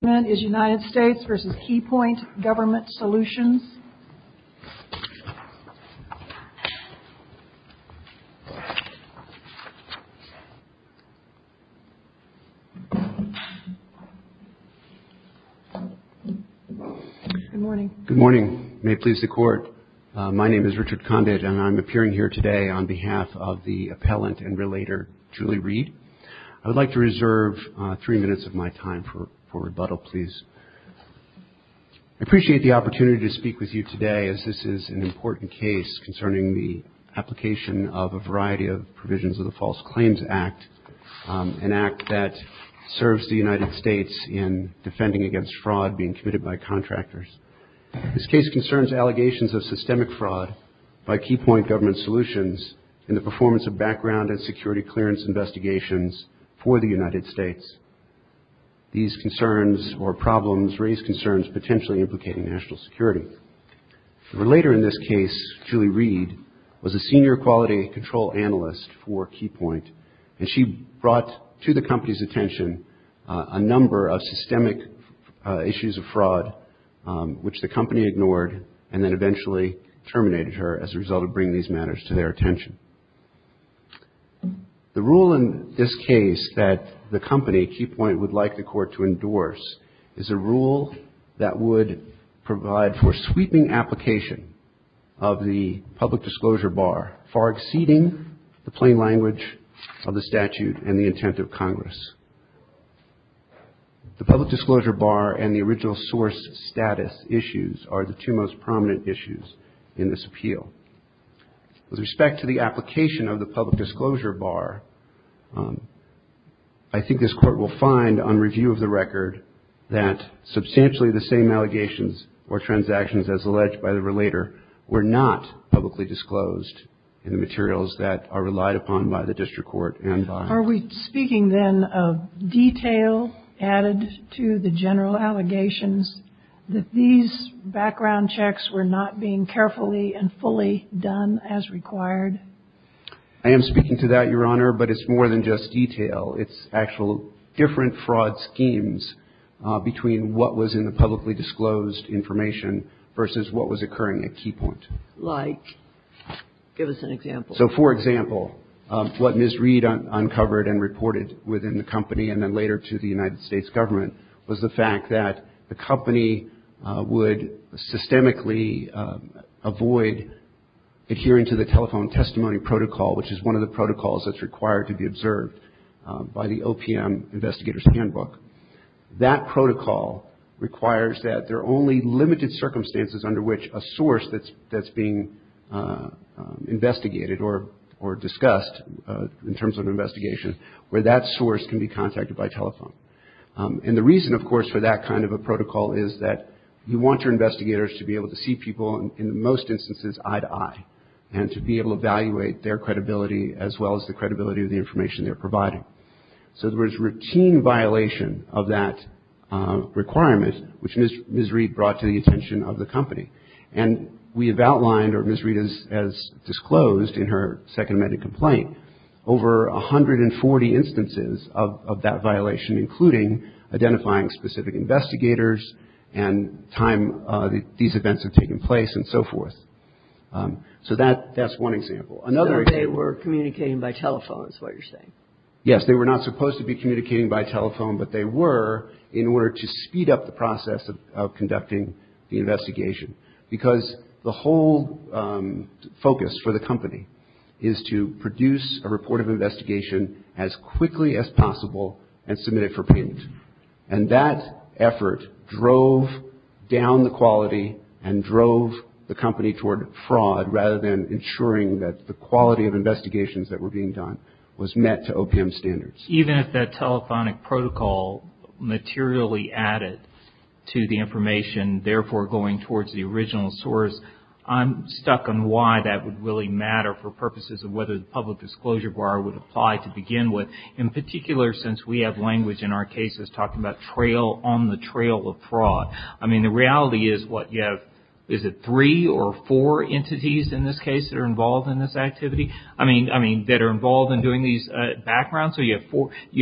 Good morning. Good morning. May it please the Court, my name is Richard Condit and I'm appearing here today on behalf of the appellant and relator Julie Reed. I would like to reserve three minutes of my time for rebuttal. I appreciate the opportunity to speak with you today as this is an important case concerning the application of a variety of provisions of the False Claims Act, an act that serves the United States in defending against fraud being committed by contractors. This case concerns allegations of systemic fraud by Keypoint Government Solutions in the performance of background and security clearance investigations for the United States. These concerns or problems raise concerns potentially implicating national security. Relator in this case, Julie Reed, was a senior quality control analyst for Keypoint and she brought to the company's attention a number of systemic issues of fraud which the company ignored and then Keypoint would like the Court to endorse is a rule that would provide for sweeping application of the public disclosure bar far exceeding the plain language of the statute and the intent of Congress. The public disclosure bar and the original source status issues are the two most prominent issues in this appeal. With respect to the application of the public disclosure bar, I think this Court will find on review of the record that substantially the same allegations or transactions as alleged by the relator were not publicly disclosed in the materials that are relied upon by the and fully done as required. I am speaking to that, Your Honor, but it's more than just detail. It's actual different fraud schemes between what was in the publicly disclosed information versus what was occurring at Keypoint. Like? Give us an example. So, for example, what Ms. Reed uncovered and reported within the company and then later to the United States government was the fact that the company would systemically avoid adhering to the telephone testimony protocol, which is one of the protocols that's required to be observed by the OPM Investigator's Handbook. That protocol requires that there are only limited circumstances under which a source that's being investigated or discussed in terms of investigation where that source can be contacted by telephone. And the reason, of course, for that kind of a protocol is that you want your investigators to be able to see people in most instances eye to eye and to be able to evaluate their credibility as well as the credibility of the information they're providing. So there was routine violation of that requirement, which Ms. Reed brought to the attention of the company. And we have outlined, or Ms. Reed has disclosed in her second amended complaint, over 140 instances of that violation, including identifying specific investigators and time these events have taken place and so forth. So that's one example. Another example. So they were communicating by telephone is what you're saying? Yes, they were not supposed to be communicating by telephone, but they were in order to speed up the process of conducting the investigation because the whole focus for the company is to produce a report of investigation as quickly as possible and submit it for payment. And that effort drove down the quality and drove the company toward fraud rather than ensuring that the quality of investigations that were being done was met to OPM standards. Even if that telephonic protocol materially added to the information, therefore going towards the original source, I'm stuck on why that would really matter for purposes of whether the public disclosure bar would apply to begin with. In particular, since we have language in our cases talking about trail on the trail of fraud. I mean, the reality is what you have, is it three or four entities in this case that are involved in this activity? I mean, that are involved in doing these backgrounds? So you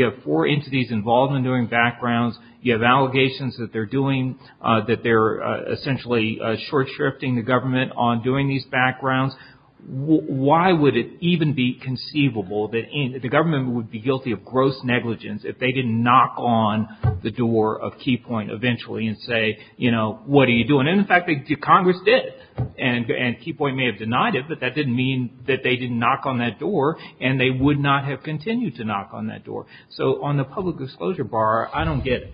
have four entities involved in doing backgrounds. You have allegations that they're doing, that they're essentially short-shifting the government on doing these backgrounds. Why would it even be conceivable that the government would be guilty of gross negligence if they didn't knock on the door of Key Point eventually and say, you know, what are you doing? And in fact, Congress did. And Key Point may have denied it, but that didn't mean that they didn't knock on that door and they would not have continued to knock on that door. So on the public disclosure bar, I don't get it.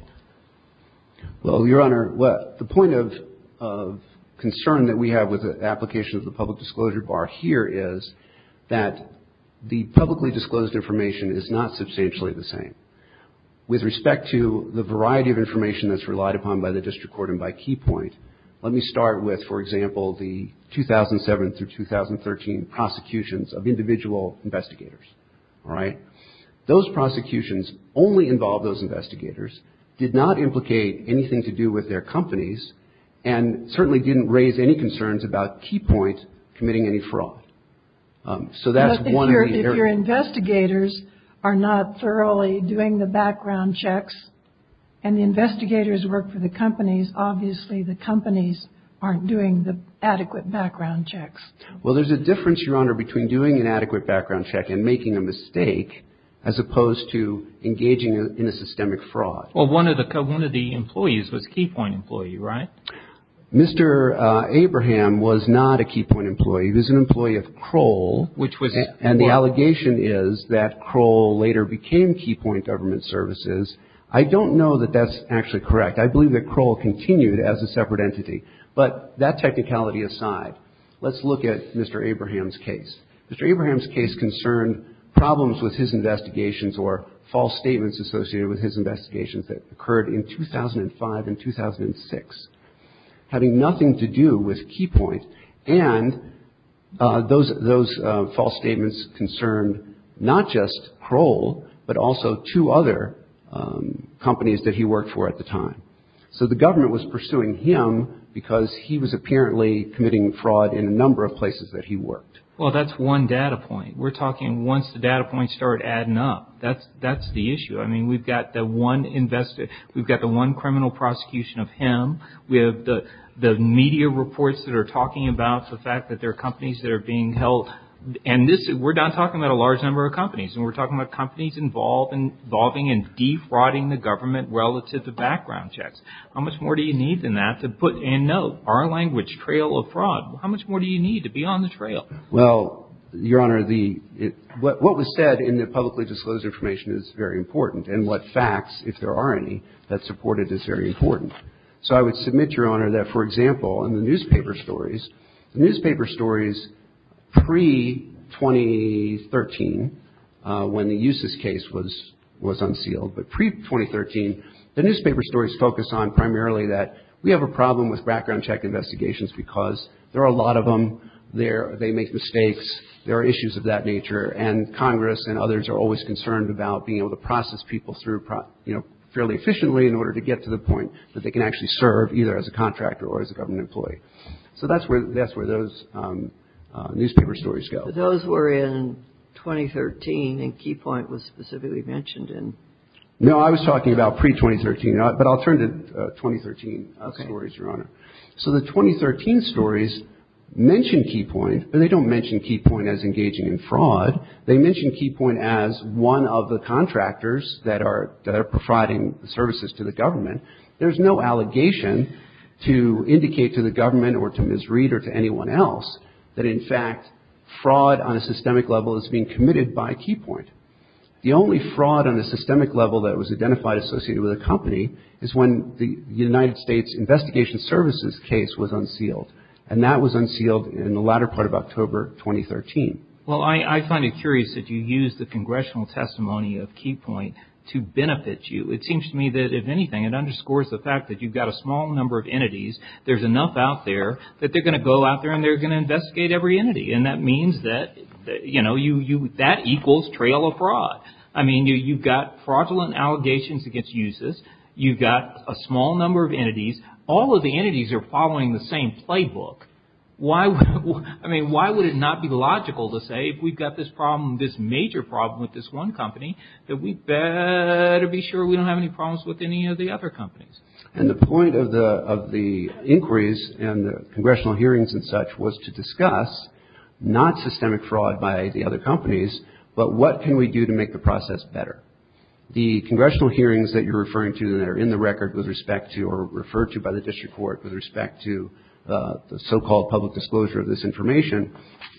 Well, Your Honor, the point of concern that we have with the application of the public disclosure bar here is that the publicly disclosed information is not substantially the same. With respect to the variety of information that's relied upon by the district court and by Key Point, let me start with, for example, the 2007 through 2013 prosecutions of individual investigators. All right? Those prosecutions only involve those who did not implicate anything to do with their companies and certainly didn't raise any concerns about Key Point committing any fraud. So that's one of the areas. But if your investigators are not thoroughly doing the background checks and the investigators work for the companies, obviously the companies aren't doing the adequate background checks. Well, there's a difference, Your Honor, between doing an adequate background check and making a mistake as opposed to engaging in a systemic fraud. Well, one of the employees was a Key Point employee, right? Mr. Abraham was not a Key Point employee. He was an employee of Kroll. And the allegation is that Kroll later became Key Point Government Services. I don't know that that's actually correct. I believe that aside, let's look at Mr. Abraham's case. Mr. Abraham's case concerned problems with his investigations or false statements associated with his investigations that occurred in 2005 and 2006, having nothing to do with Key Point. And those false statements concerned not just Kroll, but also two other companies that he worked for at the time. So the government was pursuing him because he was apparently committing fraud in a number of places that he worked. Well, that's one data point. We're talking once the data points start adding up, that's the issue. I mean, we've got the one criminal prosecution of him. We have the media reports that are talking about the fact that there are companies that are being held. And we're not talking about a large number of companies. We're talking about companies involving and defrauding the government relative to background checks. How much more do you need than that to put in, no, our language, trail of fraud? How much more do you need to be on the trail? Well, Your Honor, what was said in the publicly disclosed information is very important. And what facts, if there are any, that support it is very important. So I would submit, Your Honor, that, for example, in the newspaper stories, the newspaper stories pre-2013, when the Usas case was unsealed, but pre-2013, the newspaper stories focused on primarily that we have a problem with background check investigations because there are a lot of them. They make mistakes. There are issues of that nature. And Congress and others are always concerned about being able to process people through fairly efficiently in order to get to the point that they can actually serve either as a contractor or as a government employee. So that's where those newspaper stories go. Those were in 2013 and Key Point was specifically mentioned in. No, I was talking about pre-2013, but I'll turn to 2013 stories, Your Honor. So the 2013 stories mention Key Point, but they don't mention Key Point as engaging in fraud. They mention Key Point as one of the contractors that are providing services to the government. There's no allegation to indicate to the government or to Ms. Reed or to anyone else that, in fact, fraud on a systemic level is being committed by Key Point. The only fraud on a systemic level that was identified associated with a company is when the United States Investigation Services case was unsealed, and that was unsealed in the latter part of October 2013. Well, I find it curious that you use the congressional testimony of Key Point to benefit you. It seems to me that, if anything, it underscores the fact that you've got a small number of entities. There's enough out there that they're going to go out there and they're going to investigate every entity, and that means that, you know, that equals trail of fraud. I mean, you've got fraudulent allegations against uses. You've got a small number of entities. All of the entities are following the same playbook. I mean, why would it not be logical to say, if we've got this problem, this major problem with this one company, that we better be sure we don't have any problems with any of the other companies? And the point of the inquiries and the congressional hearings and such was to discuss not systemic fraud by the other companies, but what can we do to make the process better. The congressional hearings that you're referring to that are in the record with respect to or referred to by the district court with respect to the so-called public disclosure of this information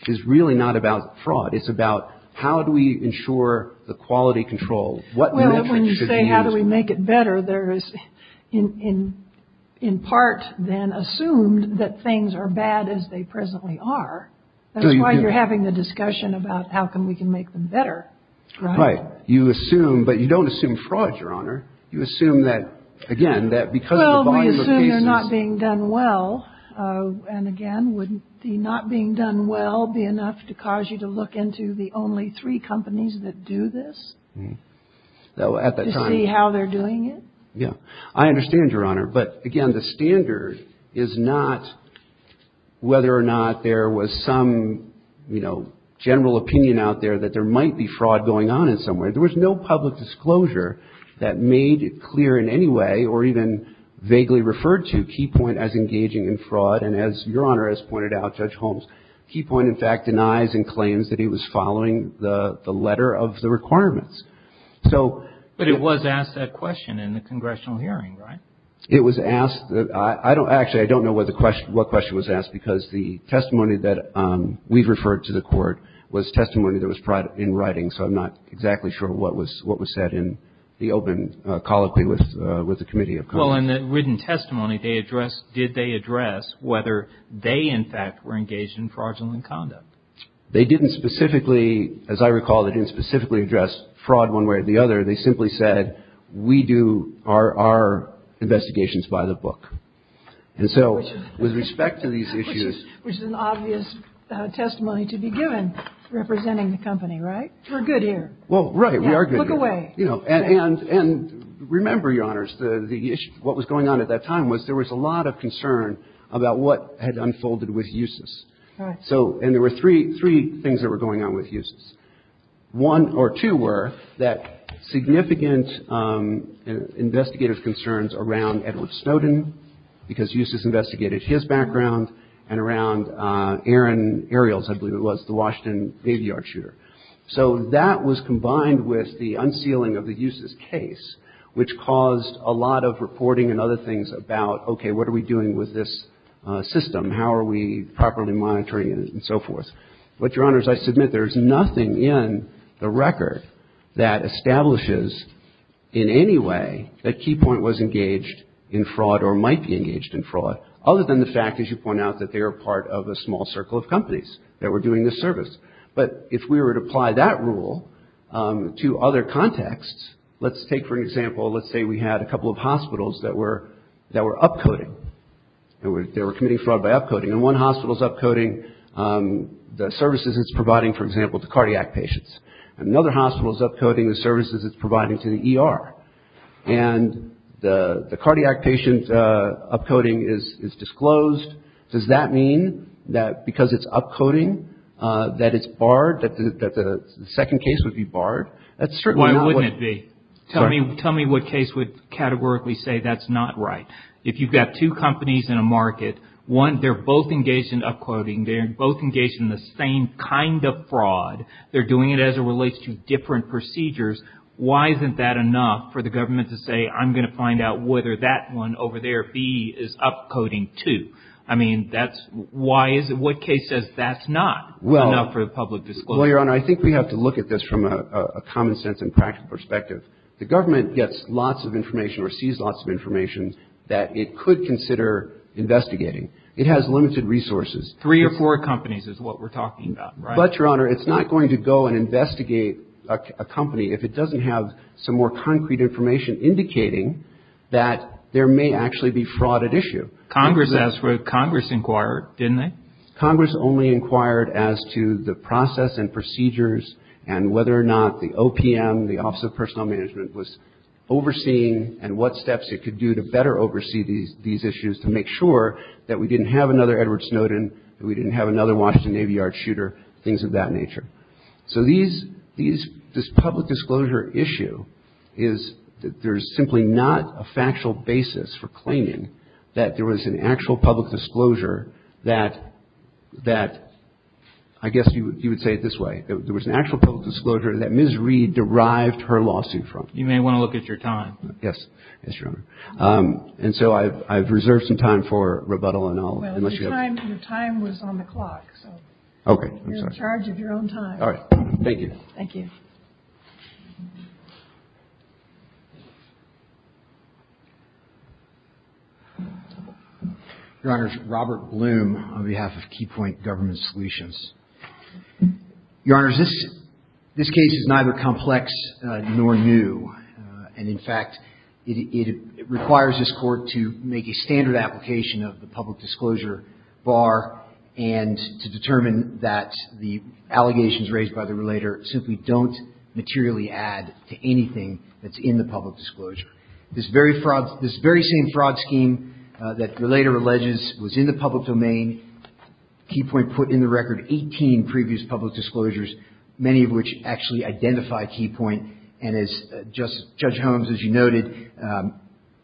is really not about fraud. It's about how do we ensure the quality control? What metrics should be used? Well, when you say how do we make it better, there is in part then assumed that things are bad as they presently are. That's why you're having the discussion about how can we can make them better. Right. You assume, but you don't assume fraud, Your Honor. And again, would the not being done well be enough to cause you to look into the only three companies that do this? To see how they're doing it? Yeah. I understand, Your Honor. But, again, the standard is not whether or not there was some, you know, general opinion out there that there might be fraud going on in some way. There was no public disclosure that made it clear in any way or even vaguely referred to Key Point as engaging in fraud. And as Your Honor has pointed out, Judge Holmes, Key Point, in fact, denies and claims that he was following the letter of the requirements. But it was asked that question in the congressional hearing, right? It was asked. Actually, I don't know what question was asked because the testimony that we've referred to the court was testimony that was in writing. So I'm not exactly sure what was said in the open colloquy with the committee of Congress. Well, in the written testimony, they addressed, did they address whether they, in fact, were engaged in fraudulent conduct? They didn't specifically, as I recall, they didn't specifically address fraud one way or the other. They simply said, we do our investigations by the book. And so with respect to these issues. Which is an obvious testimony to be given representing the company, right? We're good here. Well, right. We are good here. Look away. And remember, Your Honors, the issue, what was going on at that time was there was a lot of concern about what had unfolded with Eustis. And there were three things that were going on with Eustis. One or two were that significant investigative concerns around Edward Snowden, because Eustis investigated his background, and around Aaron Ariels, I believe it was, the Washington Navy Yard shooter. So that was combined with the unsealing of the Eustis case, which caused a lot of reporting and other things about, okay, what are we doing with this system? How are we properly monitoring it? And so forth. But, Your Honors, I submit there is nothing in the record that establishes in any way that Keypoint was engaged in fraud or might be engaged in fraud, other than the fact, as you point out, that they are part of a small circle of companies that were doing this service. But if we were to apply that rule to other contexts, let's take, for example, let's say we had a couple of hospitals that were up-coding. They were committing fraud by up-coding. And one hospital is up-coding the services it's providing, for example, to cardiac patients. Another hospital is up-coding the services it's providing to the ER. And the cardiac patient up-coding is disclosed. Does that mean that because it's up-coding, that it's barred, that the second case would be barred? Why wouldn't it be? Tell me what case would categorically say that's not right. If you've got two companies in a market, one, they're both engaged in up-coding. They're both engaged in the same kind of fraud. They're doing it as it relates to different procedures. Why isn't that enough for the government to say, I'm going to find out whether that one over there, B, is up-coding too? I mean, that's why is it, what case says that's not enough for the public disclosure? Well, Your Honor, I think we have to look at this from a common sense and practical perspective. The government gets lots of information or sees lots of information that it could consider investigating. It has limited resources. Three or four companies is what we're talking about, right? But, Your Honor, it's not going to go and investigate a company if it doesn't have some more concrete information indicating that there may actually be fraud at issue. Congress asked for it. Congress inquired, didn't they? Congress only inquired as to the process and procedures and whether or not the OPM, the Office of Personnel Management, was overseeing and what steps it could do to better oversee these issues to make sure that we didn't have another Edward Snowden, that we didn't have another Washington Navy Yard shooter, things of that nature. So these, this public disclosure issue is that there's simply not a factual basis for claiming that there was an actual public disclosure that, I guess you would say it this way, there was an actual public disclosure that Ms. Reed derived her lawsuit from. You may want to look at your time. Yes. Yes, Your Honor. And so I've reserved some time for rebuttal and all. Well, your time was on the clock, so. Okay. You're in charge of your own time. All right. Thank you. Thank you. Your Honors, Robert Bloom on behalf of Key Point Government Solutions. Your Honors, this case is neither complex nor new, and in fact, it requires this Court to make a standard application of the public disclosure. The allegations raised by the relator simply don't materially add to anything that's in the public disclosure. This very same fraud scheme that the relator alleges was in the public domain, Key Point put in the record 18 previous public disclosures, many of which actually identify Key Point. And as Judge Holmes, as you noted,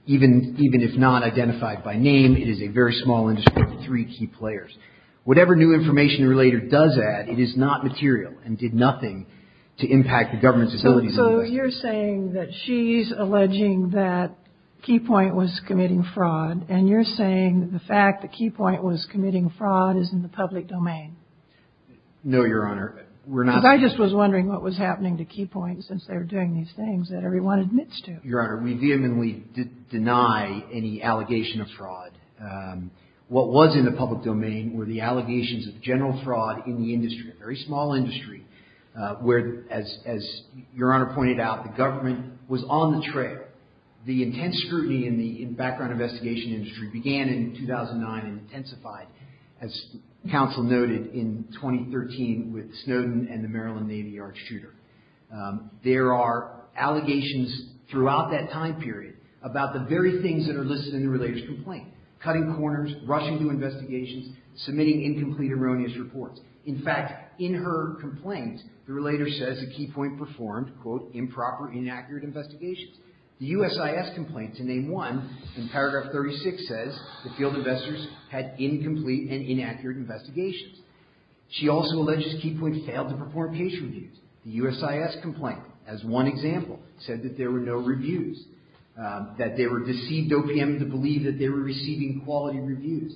even if not identified by name, it is a very small industry with three key players. Whatever new information the relator does add, it is not material and did nothing to impact the government's facilities. So you're saying that she's alleging that Key Point was committing fraud, and you're saying the fact that Key Point was committing fraud is in the public domain? No, Your Honor. We're not. Because I just was wondering what was happening to Key Point since they were doing these things that everyone admits to. What was in the public domain were the allegations of general fraud in the industry, a very small industry, where, as Your Honor pointed out, the government was on the trail. The intense scrutiny in the background investigation industry began in 2009 and intensified, as counsel noted, in 2013 with Snowden and the Maryland Navy Architect. There are allegations throughout that time period about the very things that are listed in the relator's complaint, cutting corners, rushing to investigations, submitting incomplete, erroneous reports. In fact, in her complaint, the relator says that Key Point performed, quote, improper, inaccurate investigations. The USIS complaint, to name one, in paragraph 36 says the field investors had incomplete and inaccurate investigations. She also alleges Key Point failed to perform case reviews. The USIS complaint, as one example, said that there were no reviews, that they were deceived OPM to believe that they were receiving quality reviews.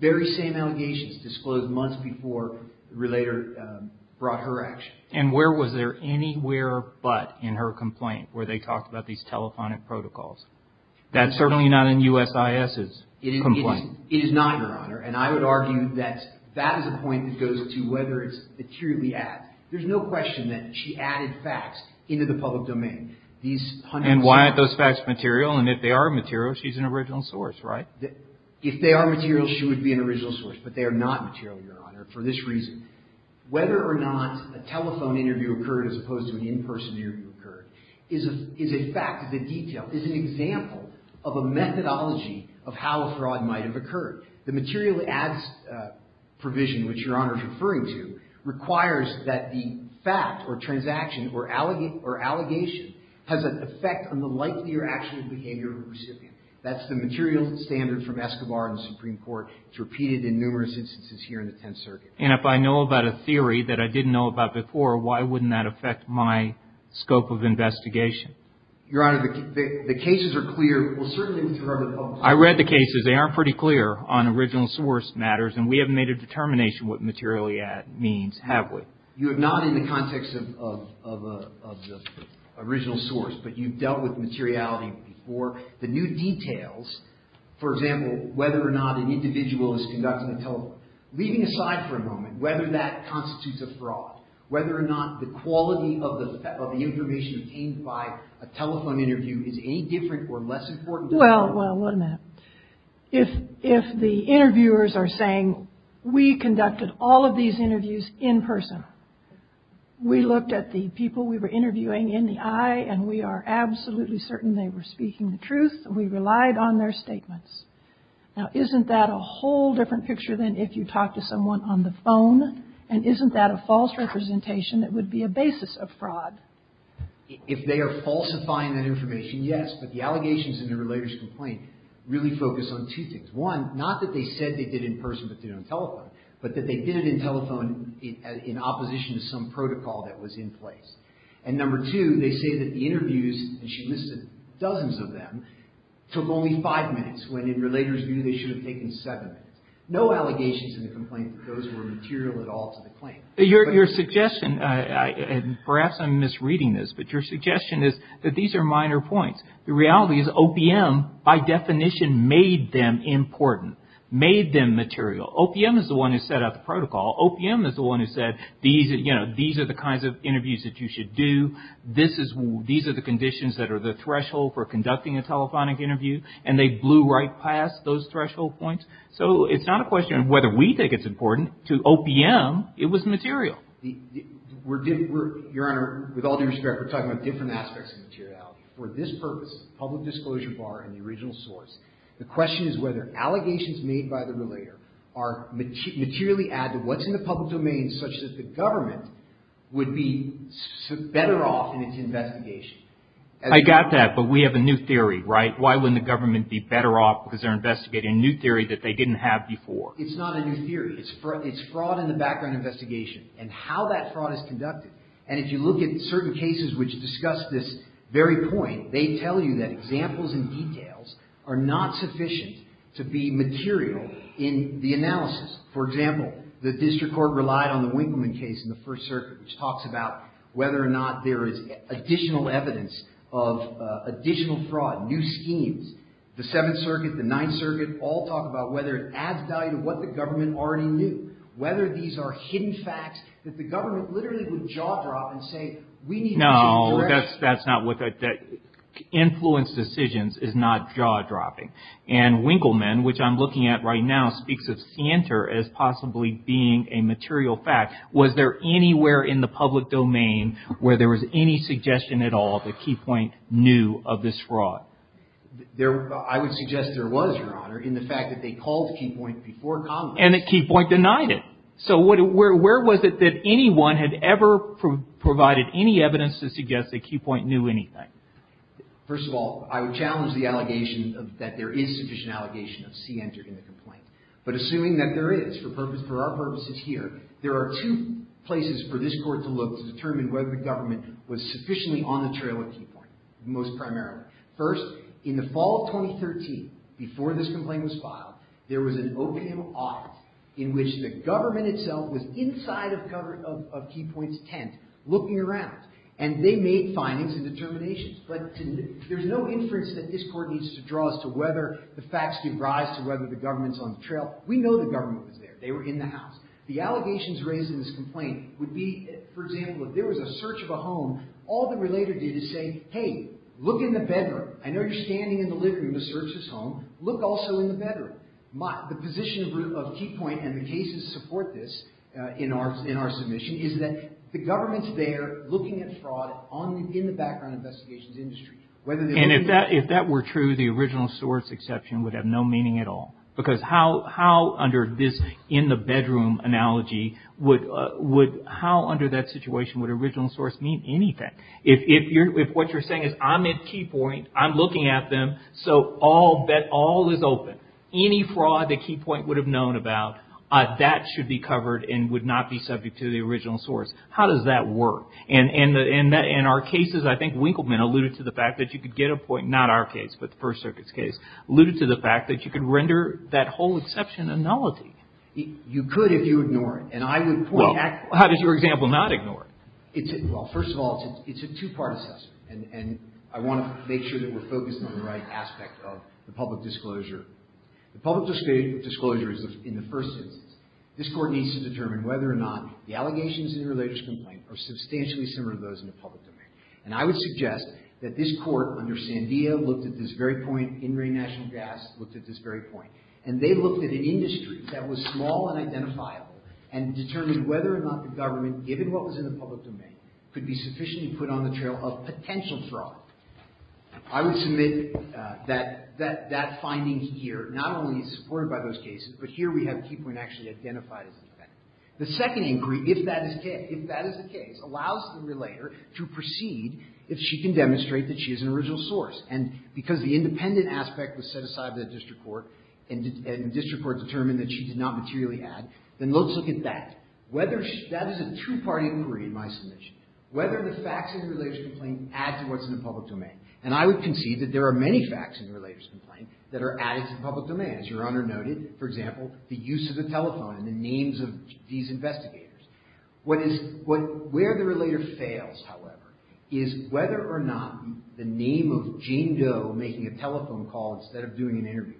Very same allegations disclosed months before the relator brought her action. And where was there anywhere but in her complaint where they talked about these telephonic protocols? That's certainly not in USIS's complaint. It is not, Your Honor. And I would argue that that is a point that goes to whether it's materially asked. There's no question that she added facts into the public domain. These hundreds of years ago. And why aren't those facts material? And if they are material, she's an original source, right? If they are material, she would be an original source. But they are not material, Your Honor, for this reason. Whether or not a telephone interview occurred as opposed to an in-person interview occurred is a fact, is a detail, is an example of a methodology of how a fraud might have occurred. The materially asked provision, which Your Honor is referring to, requires that the fact or transaction or allegation has an effect on the likelihood or actual behavior of the recipient. That's the material standard from Escobar in the Supreme Court. It's repeated in numerous instances here in the Tenth Circuit. And if I know about a theory that I didn't know about before, why wouldn't that affect my scope of investigation? Your Honor, the cases are clear. Well, certainly with regard to the public domain. I read the cases. They are pretty clear on original source matters. And we haven't made a determination what materially means, have we? You have not in the context of the original source. But you've dealt with materiality before. The new details, for example, whether or not an individual is conducting a telephone, leaving aside for a moment whether that constitutes a fraud, whether or not the quality of the information obtained by a telephone interview is any different or less important. Well, well, wait a minute. If the interviewers are saying, we conducted all of these interviews in person. We looked at the people we were interviewing in the eye, and we are absolutely certain they were speaking the truth. We relied on their statements. Now, isn't that a whole different picture than if you talked to someone on the phone? And isn't that a false representation that would be a basis of fraud? If they are falsifying that information, yes. But the allegations in the relator's complaint really focus on two things. One, not that they said they did in person but did it on telephone, but that they did it in telephone in opposition to some protocol that was in place. And number two, they say that the interviews, and she listed dozens of them, took only five minutes, when in relator's view they should have taken seven minutes. No allegations in the complaint that those were material at all to the claim. Your suggestion, and perhaps I'm misreading this, but your suggestion is that these are minor points. The reality is OPM, by definition, made them important, made them material. OPM is the one who set up the protocol. OPM is the one who said, you know, these are the kinds of interviews that you should do. These are the conditions that are the threshold for conducting a telephonic interview. And they blew right past those threshold points. So it's not a question of whether we think it's important. To OPM, it was material. Your Honor, with all due respect, we're talking about different aspects of materiality. For this purpose, public disclosure bar and the original source, the question is whether allegations made by the relator are materially added. What's in the public domain such that the government would be better off in its investigation? I got that, but we have a new theory, right? Why wouldn't the government be better off because they're investigating a new theory that they didn't have before? It's not a new theory. It's fraud in the background investigation and how that fraud is conducted. And if you look at certain cases which discuss this very point, they tell you that examples and details are not sufficient to be material in the analysis. For example, the district court relied on the Winkleman case in the First Circuit which talks about whether or not there is additional evidence of additional fraud, new schemes. The Seventh Circuit, the Ninth Circuit all talk about whether it adds value to what the government already knew. Whether these are hidden facts that the government literally would jaw drop and say we need to change direction. No, that's not what that – influence decisions is not jaw dropping. And Winkleman, which I'm looking at right now, speaks of scienter as possibly being a material fact. Was there anywhere in the public domain where there was any suggestion at all that Keypoint knew of this fraud? I would suggest there was, Your Honor, in the fact that they called Keypoint before Congress. And that Keypoint denied it. So where was it that anyone had ever provided any evidence to suggest that Keypoint knew anything? First of all, I would challenge the allegation that there is sufficient allegation of scienter in the complaint. But assuming that there is, for our purposes here, there are two places for this court to look to determine whether the government was sufficiently on the trail at Keypoint. Most primarily. First, in the fall of 2013, before this complaint was filed, there was an opium audit in which the government itself was inside of Keypoint's tent looking around. And they made findings and determinations. But there's no inference that this court needs to draw as to whether the facts give rise to whether the government's on the trail. We know the government was there. They were in the house. The allegations raised in this complaint would be, for example, if there was a search of a home, all the relator did is say, hey, look in the bedroom. I know you're standing in the living room to search this home. Look also in the bedroom. The position of Keypoint and the cases to support this in our submission is that the government's there looking at fraud in the background investigations industry. And if that were true, the original source exception would have no meaning at all. Because how under this in the bedroom analogy would, how under that situation would original source mean anything? If what you're saying is I'm at Keypoint, I'm looking at them, so all is open. Any fraud that Keypoint would have known about, that should be covered and would not be subject to the original source. How does that work? And in our cases, I think Winkleman alluded to the fact that you could get a point, not our case, but the First Circuit's case, alluded to the fact that you could render that whole exception a nullity. You could if you ignore it. And I would point out. How does your example not ignore it? Well, first of all, it's a two-part assessment. And I want to make sure that we're focusing on the right aspect of the public disclosure. The public disclosure is in the first instance. This Court needs to determine whether or not the allegations in the religious complaint are substantially similar to those in the public domain. And I would suggest that this Court under Sandia looked at this very point, In Re National Gas looked at this very point. And they looked at an industry that was small and identifiable and determined whether or not the government, given what was in the public domain, could be sufficiently put on the trail of potential fraud. I would submit that that finding here not only is supported by those cases, but here we have Keypoint actually identified as the fact. The second inquiry, if that is the case, allows the relator to proceed if she can demonstrate that she is an original source. And because the independent aspect was set aside by the district court and district court determined that she did not materially add, then let's look at that. Whether she – that is a two-party inquiry in my submission. Whether the facts in the religious complaint add to what's in the public domain. And I would concede that there are many facts in the religious complaint that are added to the public domain. As Your Honor noted, for example, the use of the telephone and the names of these investigators. What is – where the relator fails, however, is whether or not the name of Jane Doe making a telephone call instead of doing an interview.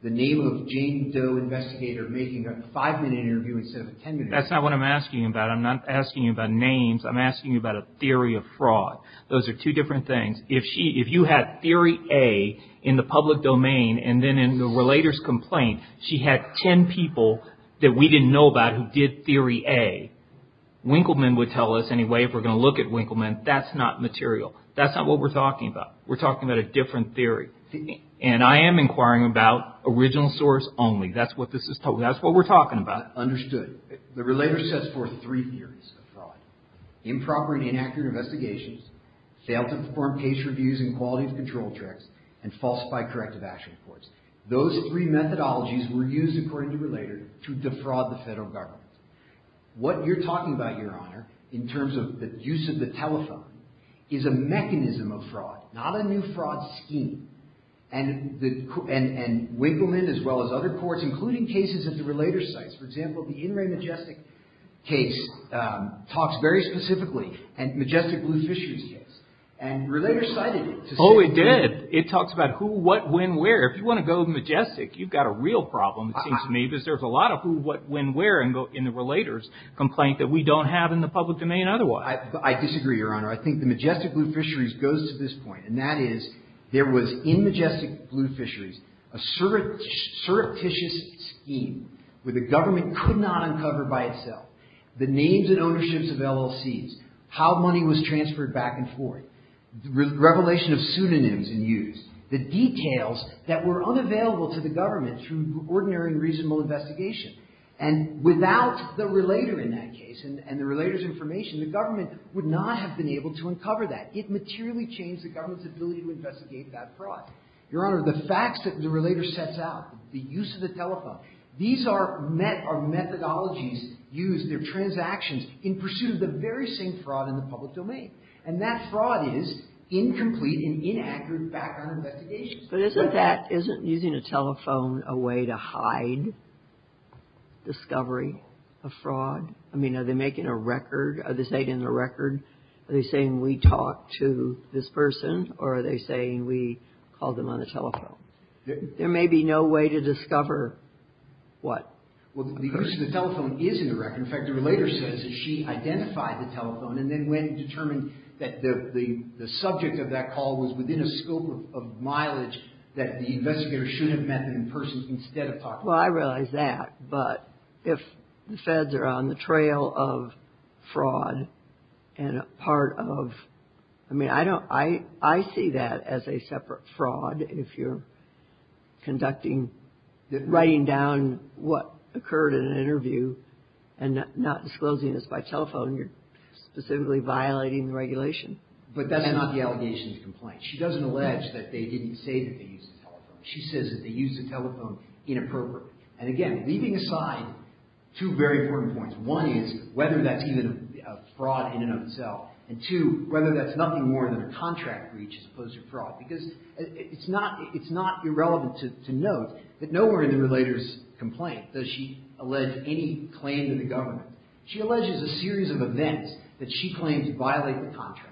The name of Jane Doe, investigator, making a five-minute interview instead of a ten-minute interview. That's not what I'm asking you about. I'm not asking you about names. I'm asking you about a theory of fraud. Those are two different things. If you had theory A in the public domain and then in the relator's complaint, she had ten people that we didn't know about who did theory A. Winkleman would tell us anyway, if we're going to look at Winkleman, that's not material. That's not what we're talking about. We're talking about a different theory. And I am inquiring about original source only. That's what this is – that's what we're talking about. Understood. The relator sets forth three theories of fraud. Improper and inaccurate investigations, failed to perform case reviews and quality of control checks, and false by corrective action reports. Those three methodologies were used, according to the relator, to defraud the federal government. What you're talking about, Your Honor, in terms of the use of the telephone, is a mechanism of fraud, not a new fraud scheme. And Winkleman, as well as other courts, including cases at the relator's sites. For example, the In Re Majestic case talks very specifically – Majestic Blue Fisheries case. And the relator cited it. Oh, it did. It talks about who, what, when, where. If you want to go Majestic, you've got a real problem, it seems to me, because there's a lot of who, what, when, where in the relator's complaint that we don't have in the public domain otherwise. I disagree, Your Honor. I think the Majestic Blue Fisheries goes to this point. And that is, there was, in Majestic Blue Fisheries, a surreptitious scheme where the government could not uncover by itself the names and ownerships of LLCs, how money was transferred back and forth, revelation of pseudonyms in use, the details that were unavailable to the government through ordinary and reasonable investigation. And without the relator in that case and the relator's information, the government would not have been able to uncover that. It materially changed the government's ability to investigate that fraud. Your Honor, the facts that the relator sets out, the use of the telephone, these are met or methodologies used, they're transactions in pursuit of the very same fraud in the public domain. And that fraud is incomplete and inaccurate background investigations. But isn't that – isn't using a telephone a way to hide discovery of fraud? I mean, are they making a record? Are they stating the record? Are they saying we talked to this person? Or are they saying we called them on the telephone? There may be no way to discover what. Well, the person on the telephone is in the record. In fact, the relator says that she identified the telephone and then when determined that the subject of that call was within a scope of mileage, that the investigator should have met them in person instead of talking to them. Well, I realize that. But if the feds are on the trail of fraud and a part of – I mean, I don't – I see that as a separate fraud if you're conducting – writing down what occurred in an interview and not disclosing this by telephone. You're specifically violating the regulation. But that's not the allegation's complaint. She doesn't allege that they didn't say that they used the telephone. She says that they used the telephone inappropriately. And again, leaving aside two very important points. One is whether that's even a fraud in and of itself. And two, whether that's nothing more than a contract breach as opposed to fraud. Because it's not irrelevant to note that nowhere in the relator's complaint does she allege any claim to the government. She alleges a series of events that she claims violate the contract.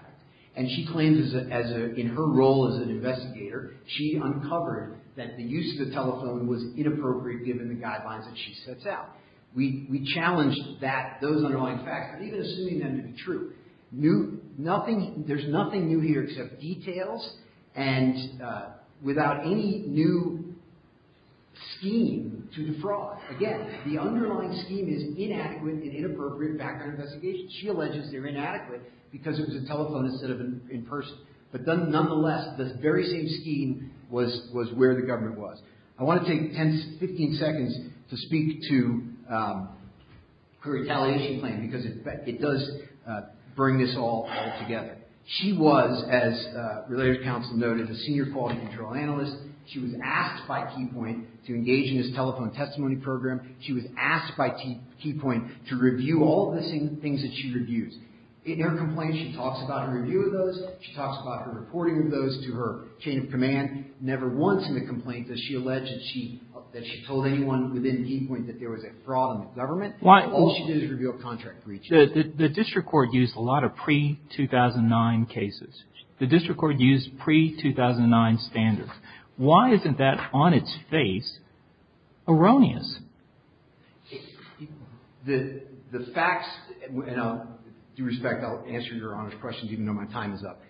And she claims as a – in her role as an investigator, she uncovered that the use of the telephone was inappropriate given the guidelines that she sets out. We challenge that – those underlying facts, but even assuming them to be true. Nothing – there's nothing new here except details and without any new scheme to defraud. Again, the underlying scheme is inadequate and inappropriate background investigation. She alleges they're inadequate because it was a telephone instead of in person. But nonetheless, the very same scheme was where the government was. I want to take 10, 15 seconds to speak to her retaliation claim because it does bring this all together. She was, as Relator's Counsel noted, a senior quality control analyst. She was asked by Keypoint to engage in this telephone testimony program. She was asked by Keypoint to review all of the things that she reviews. In her complaint, she talks about her review of those. She talks about her reporting of those to her chain of command. Never once in the complaint does she allege that she told anyone within Keypoint that there was a fraud in the government. All she did was review a contract breach. The district court used a lot of pre-2009 cases. The district court used pre-2009 standards. Why isn't that, on its face, erroneous? The facts, and I'll, due respect, I'll answer your honest questions even though my time is up.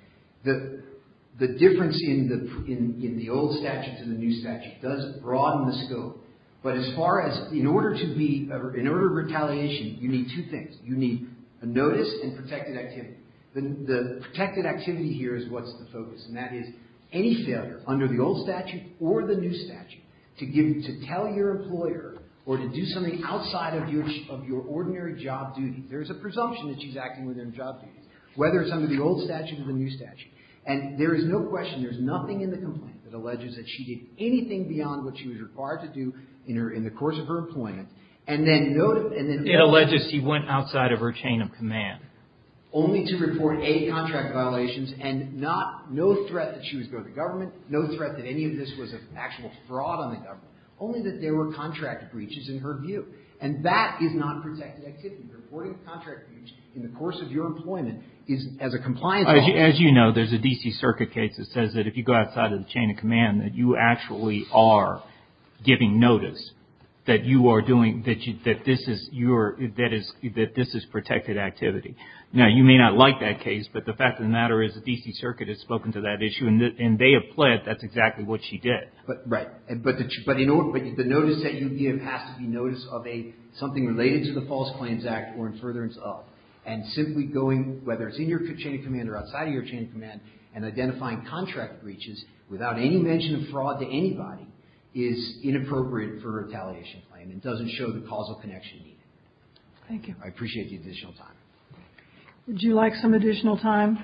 The difference in the old statute to the new statute does broaden the scope. But as far as, in order to be, in order to retaliation, you need two things. You need a notice and protected activity. The protected activity here is what's the focus. And that is any failure under the old statute or the new statute to give, to tell your employer or to do something outside of your, of your ordinary job duty. There's a presumption that she's acting within her job duties, whether it's under the old statute or the new statute. And there is no question, there's nothing in the complaint that alleges that she did anything beyond what she was required to do in her, in the course of her employment. And then no, and then. It alleges she went outside of her chain of command. Only to report eight contract violations and not, no threat that she was going to the government. No threat that any of this was an actual fraud on the government. Only that there were contract breaches in her view. And that is non-protected activity. Reporting contract breaches in the course of your employment is, as a compliance officer. As you know, there's a D.C. Circuit case that says that if you go outside of the chain of command, that you actually are giving notice. That you are doing, that you, that this is your, that is, that this is protected activity. Now, you may not like that case, but the fact of the matter is the D.C. Circuit has spoken to that issue. And they have pled that's exactly what she did. But, right. But the, but in order, but the notice that you give has to be notice of a, something related to the False Claims Act or in furtherance of. And simply going, whether it's in your chain of command or outside of your chain of command. And identifying contract breaches without any mention of fraud to anybody is inappropriate for a retaliation claim. And doesn't show the causal connection needed. Thank you. I appreciate the additional time. Would you like some additional time?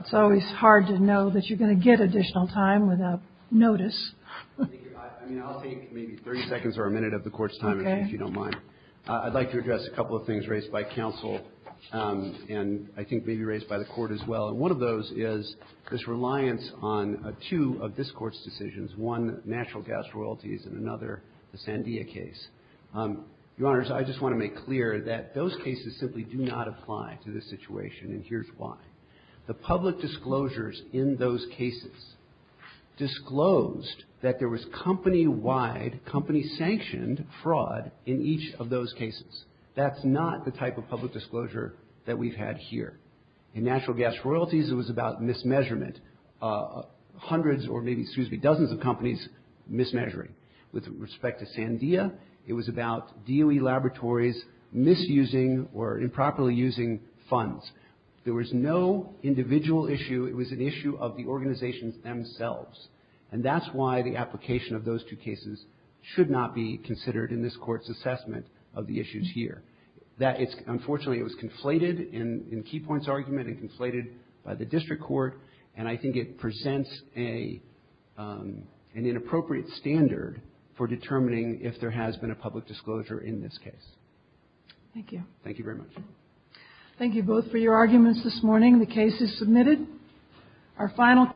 It's always hard to know that you're going to get additional time without notice. I mean, I'll take maybe 30 seconds or a minute of the court's time. Okay. If you don't mind. I'd like to address a couple of things raised by counsel. And I think maybe raised by the court as well. And one of those is this reliance on two of this Court's decisions. One, natural gas royalties. And another, the Sandia case. Your Honors, I just want to make clear that those cases simply do not apply to this situation. And here's why. The public disclosures in those cases disclosed that there was company-wide, company-sanctioned fraud in each of those cases. That's not the type of public disclosure that we've had here. In natural gas royalties, it was about mismeasurement. Hundreds or maybe, excuse me, dozens of companies mismeasuring. With respect to Sandia, it was about DOE laboratories misusing or improperly using funds. There was no individual issue. It was an issue of the organizations themselves. And that's why the application of those two cases should not be considered in this Court's assessment of the issues here. Unfortunately, it was conflated in Key Point's argument and conflated by the district court. And I think it presents an inappropriate standard for determining if there has been a public disclosure in this case. Thank you. Thank you very much. Thank you both for your arguments this morning. The case is submitted. Our final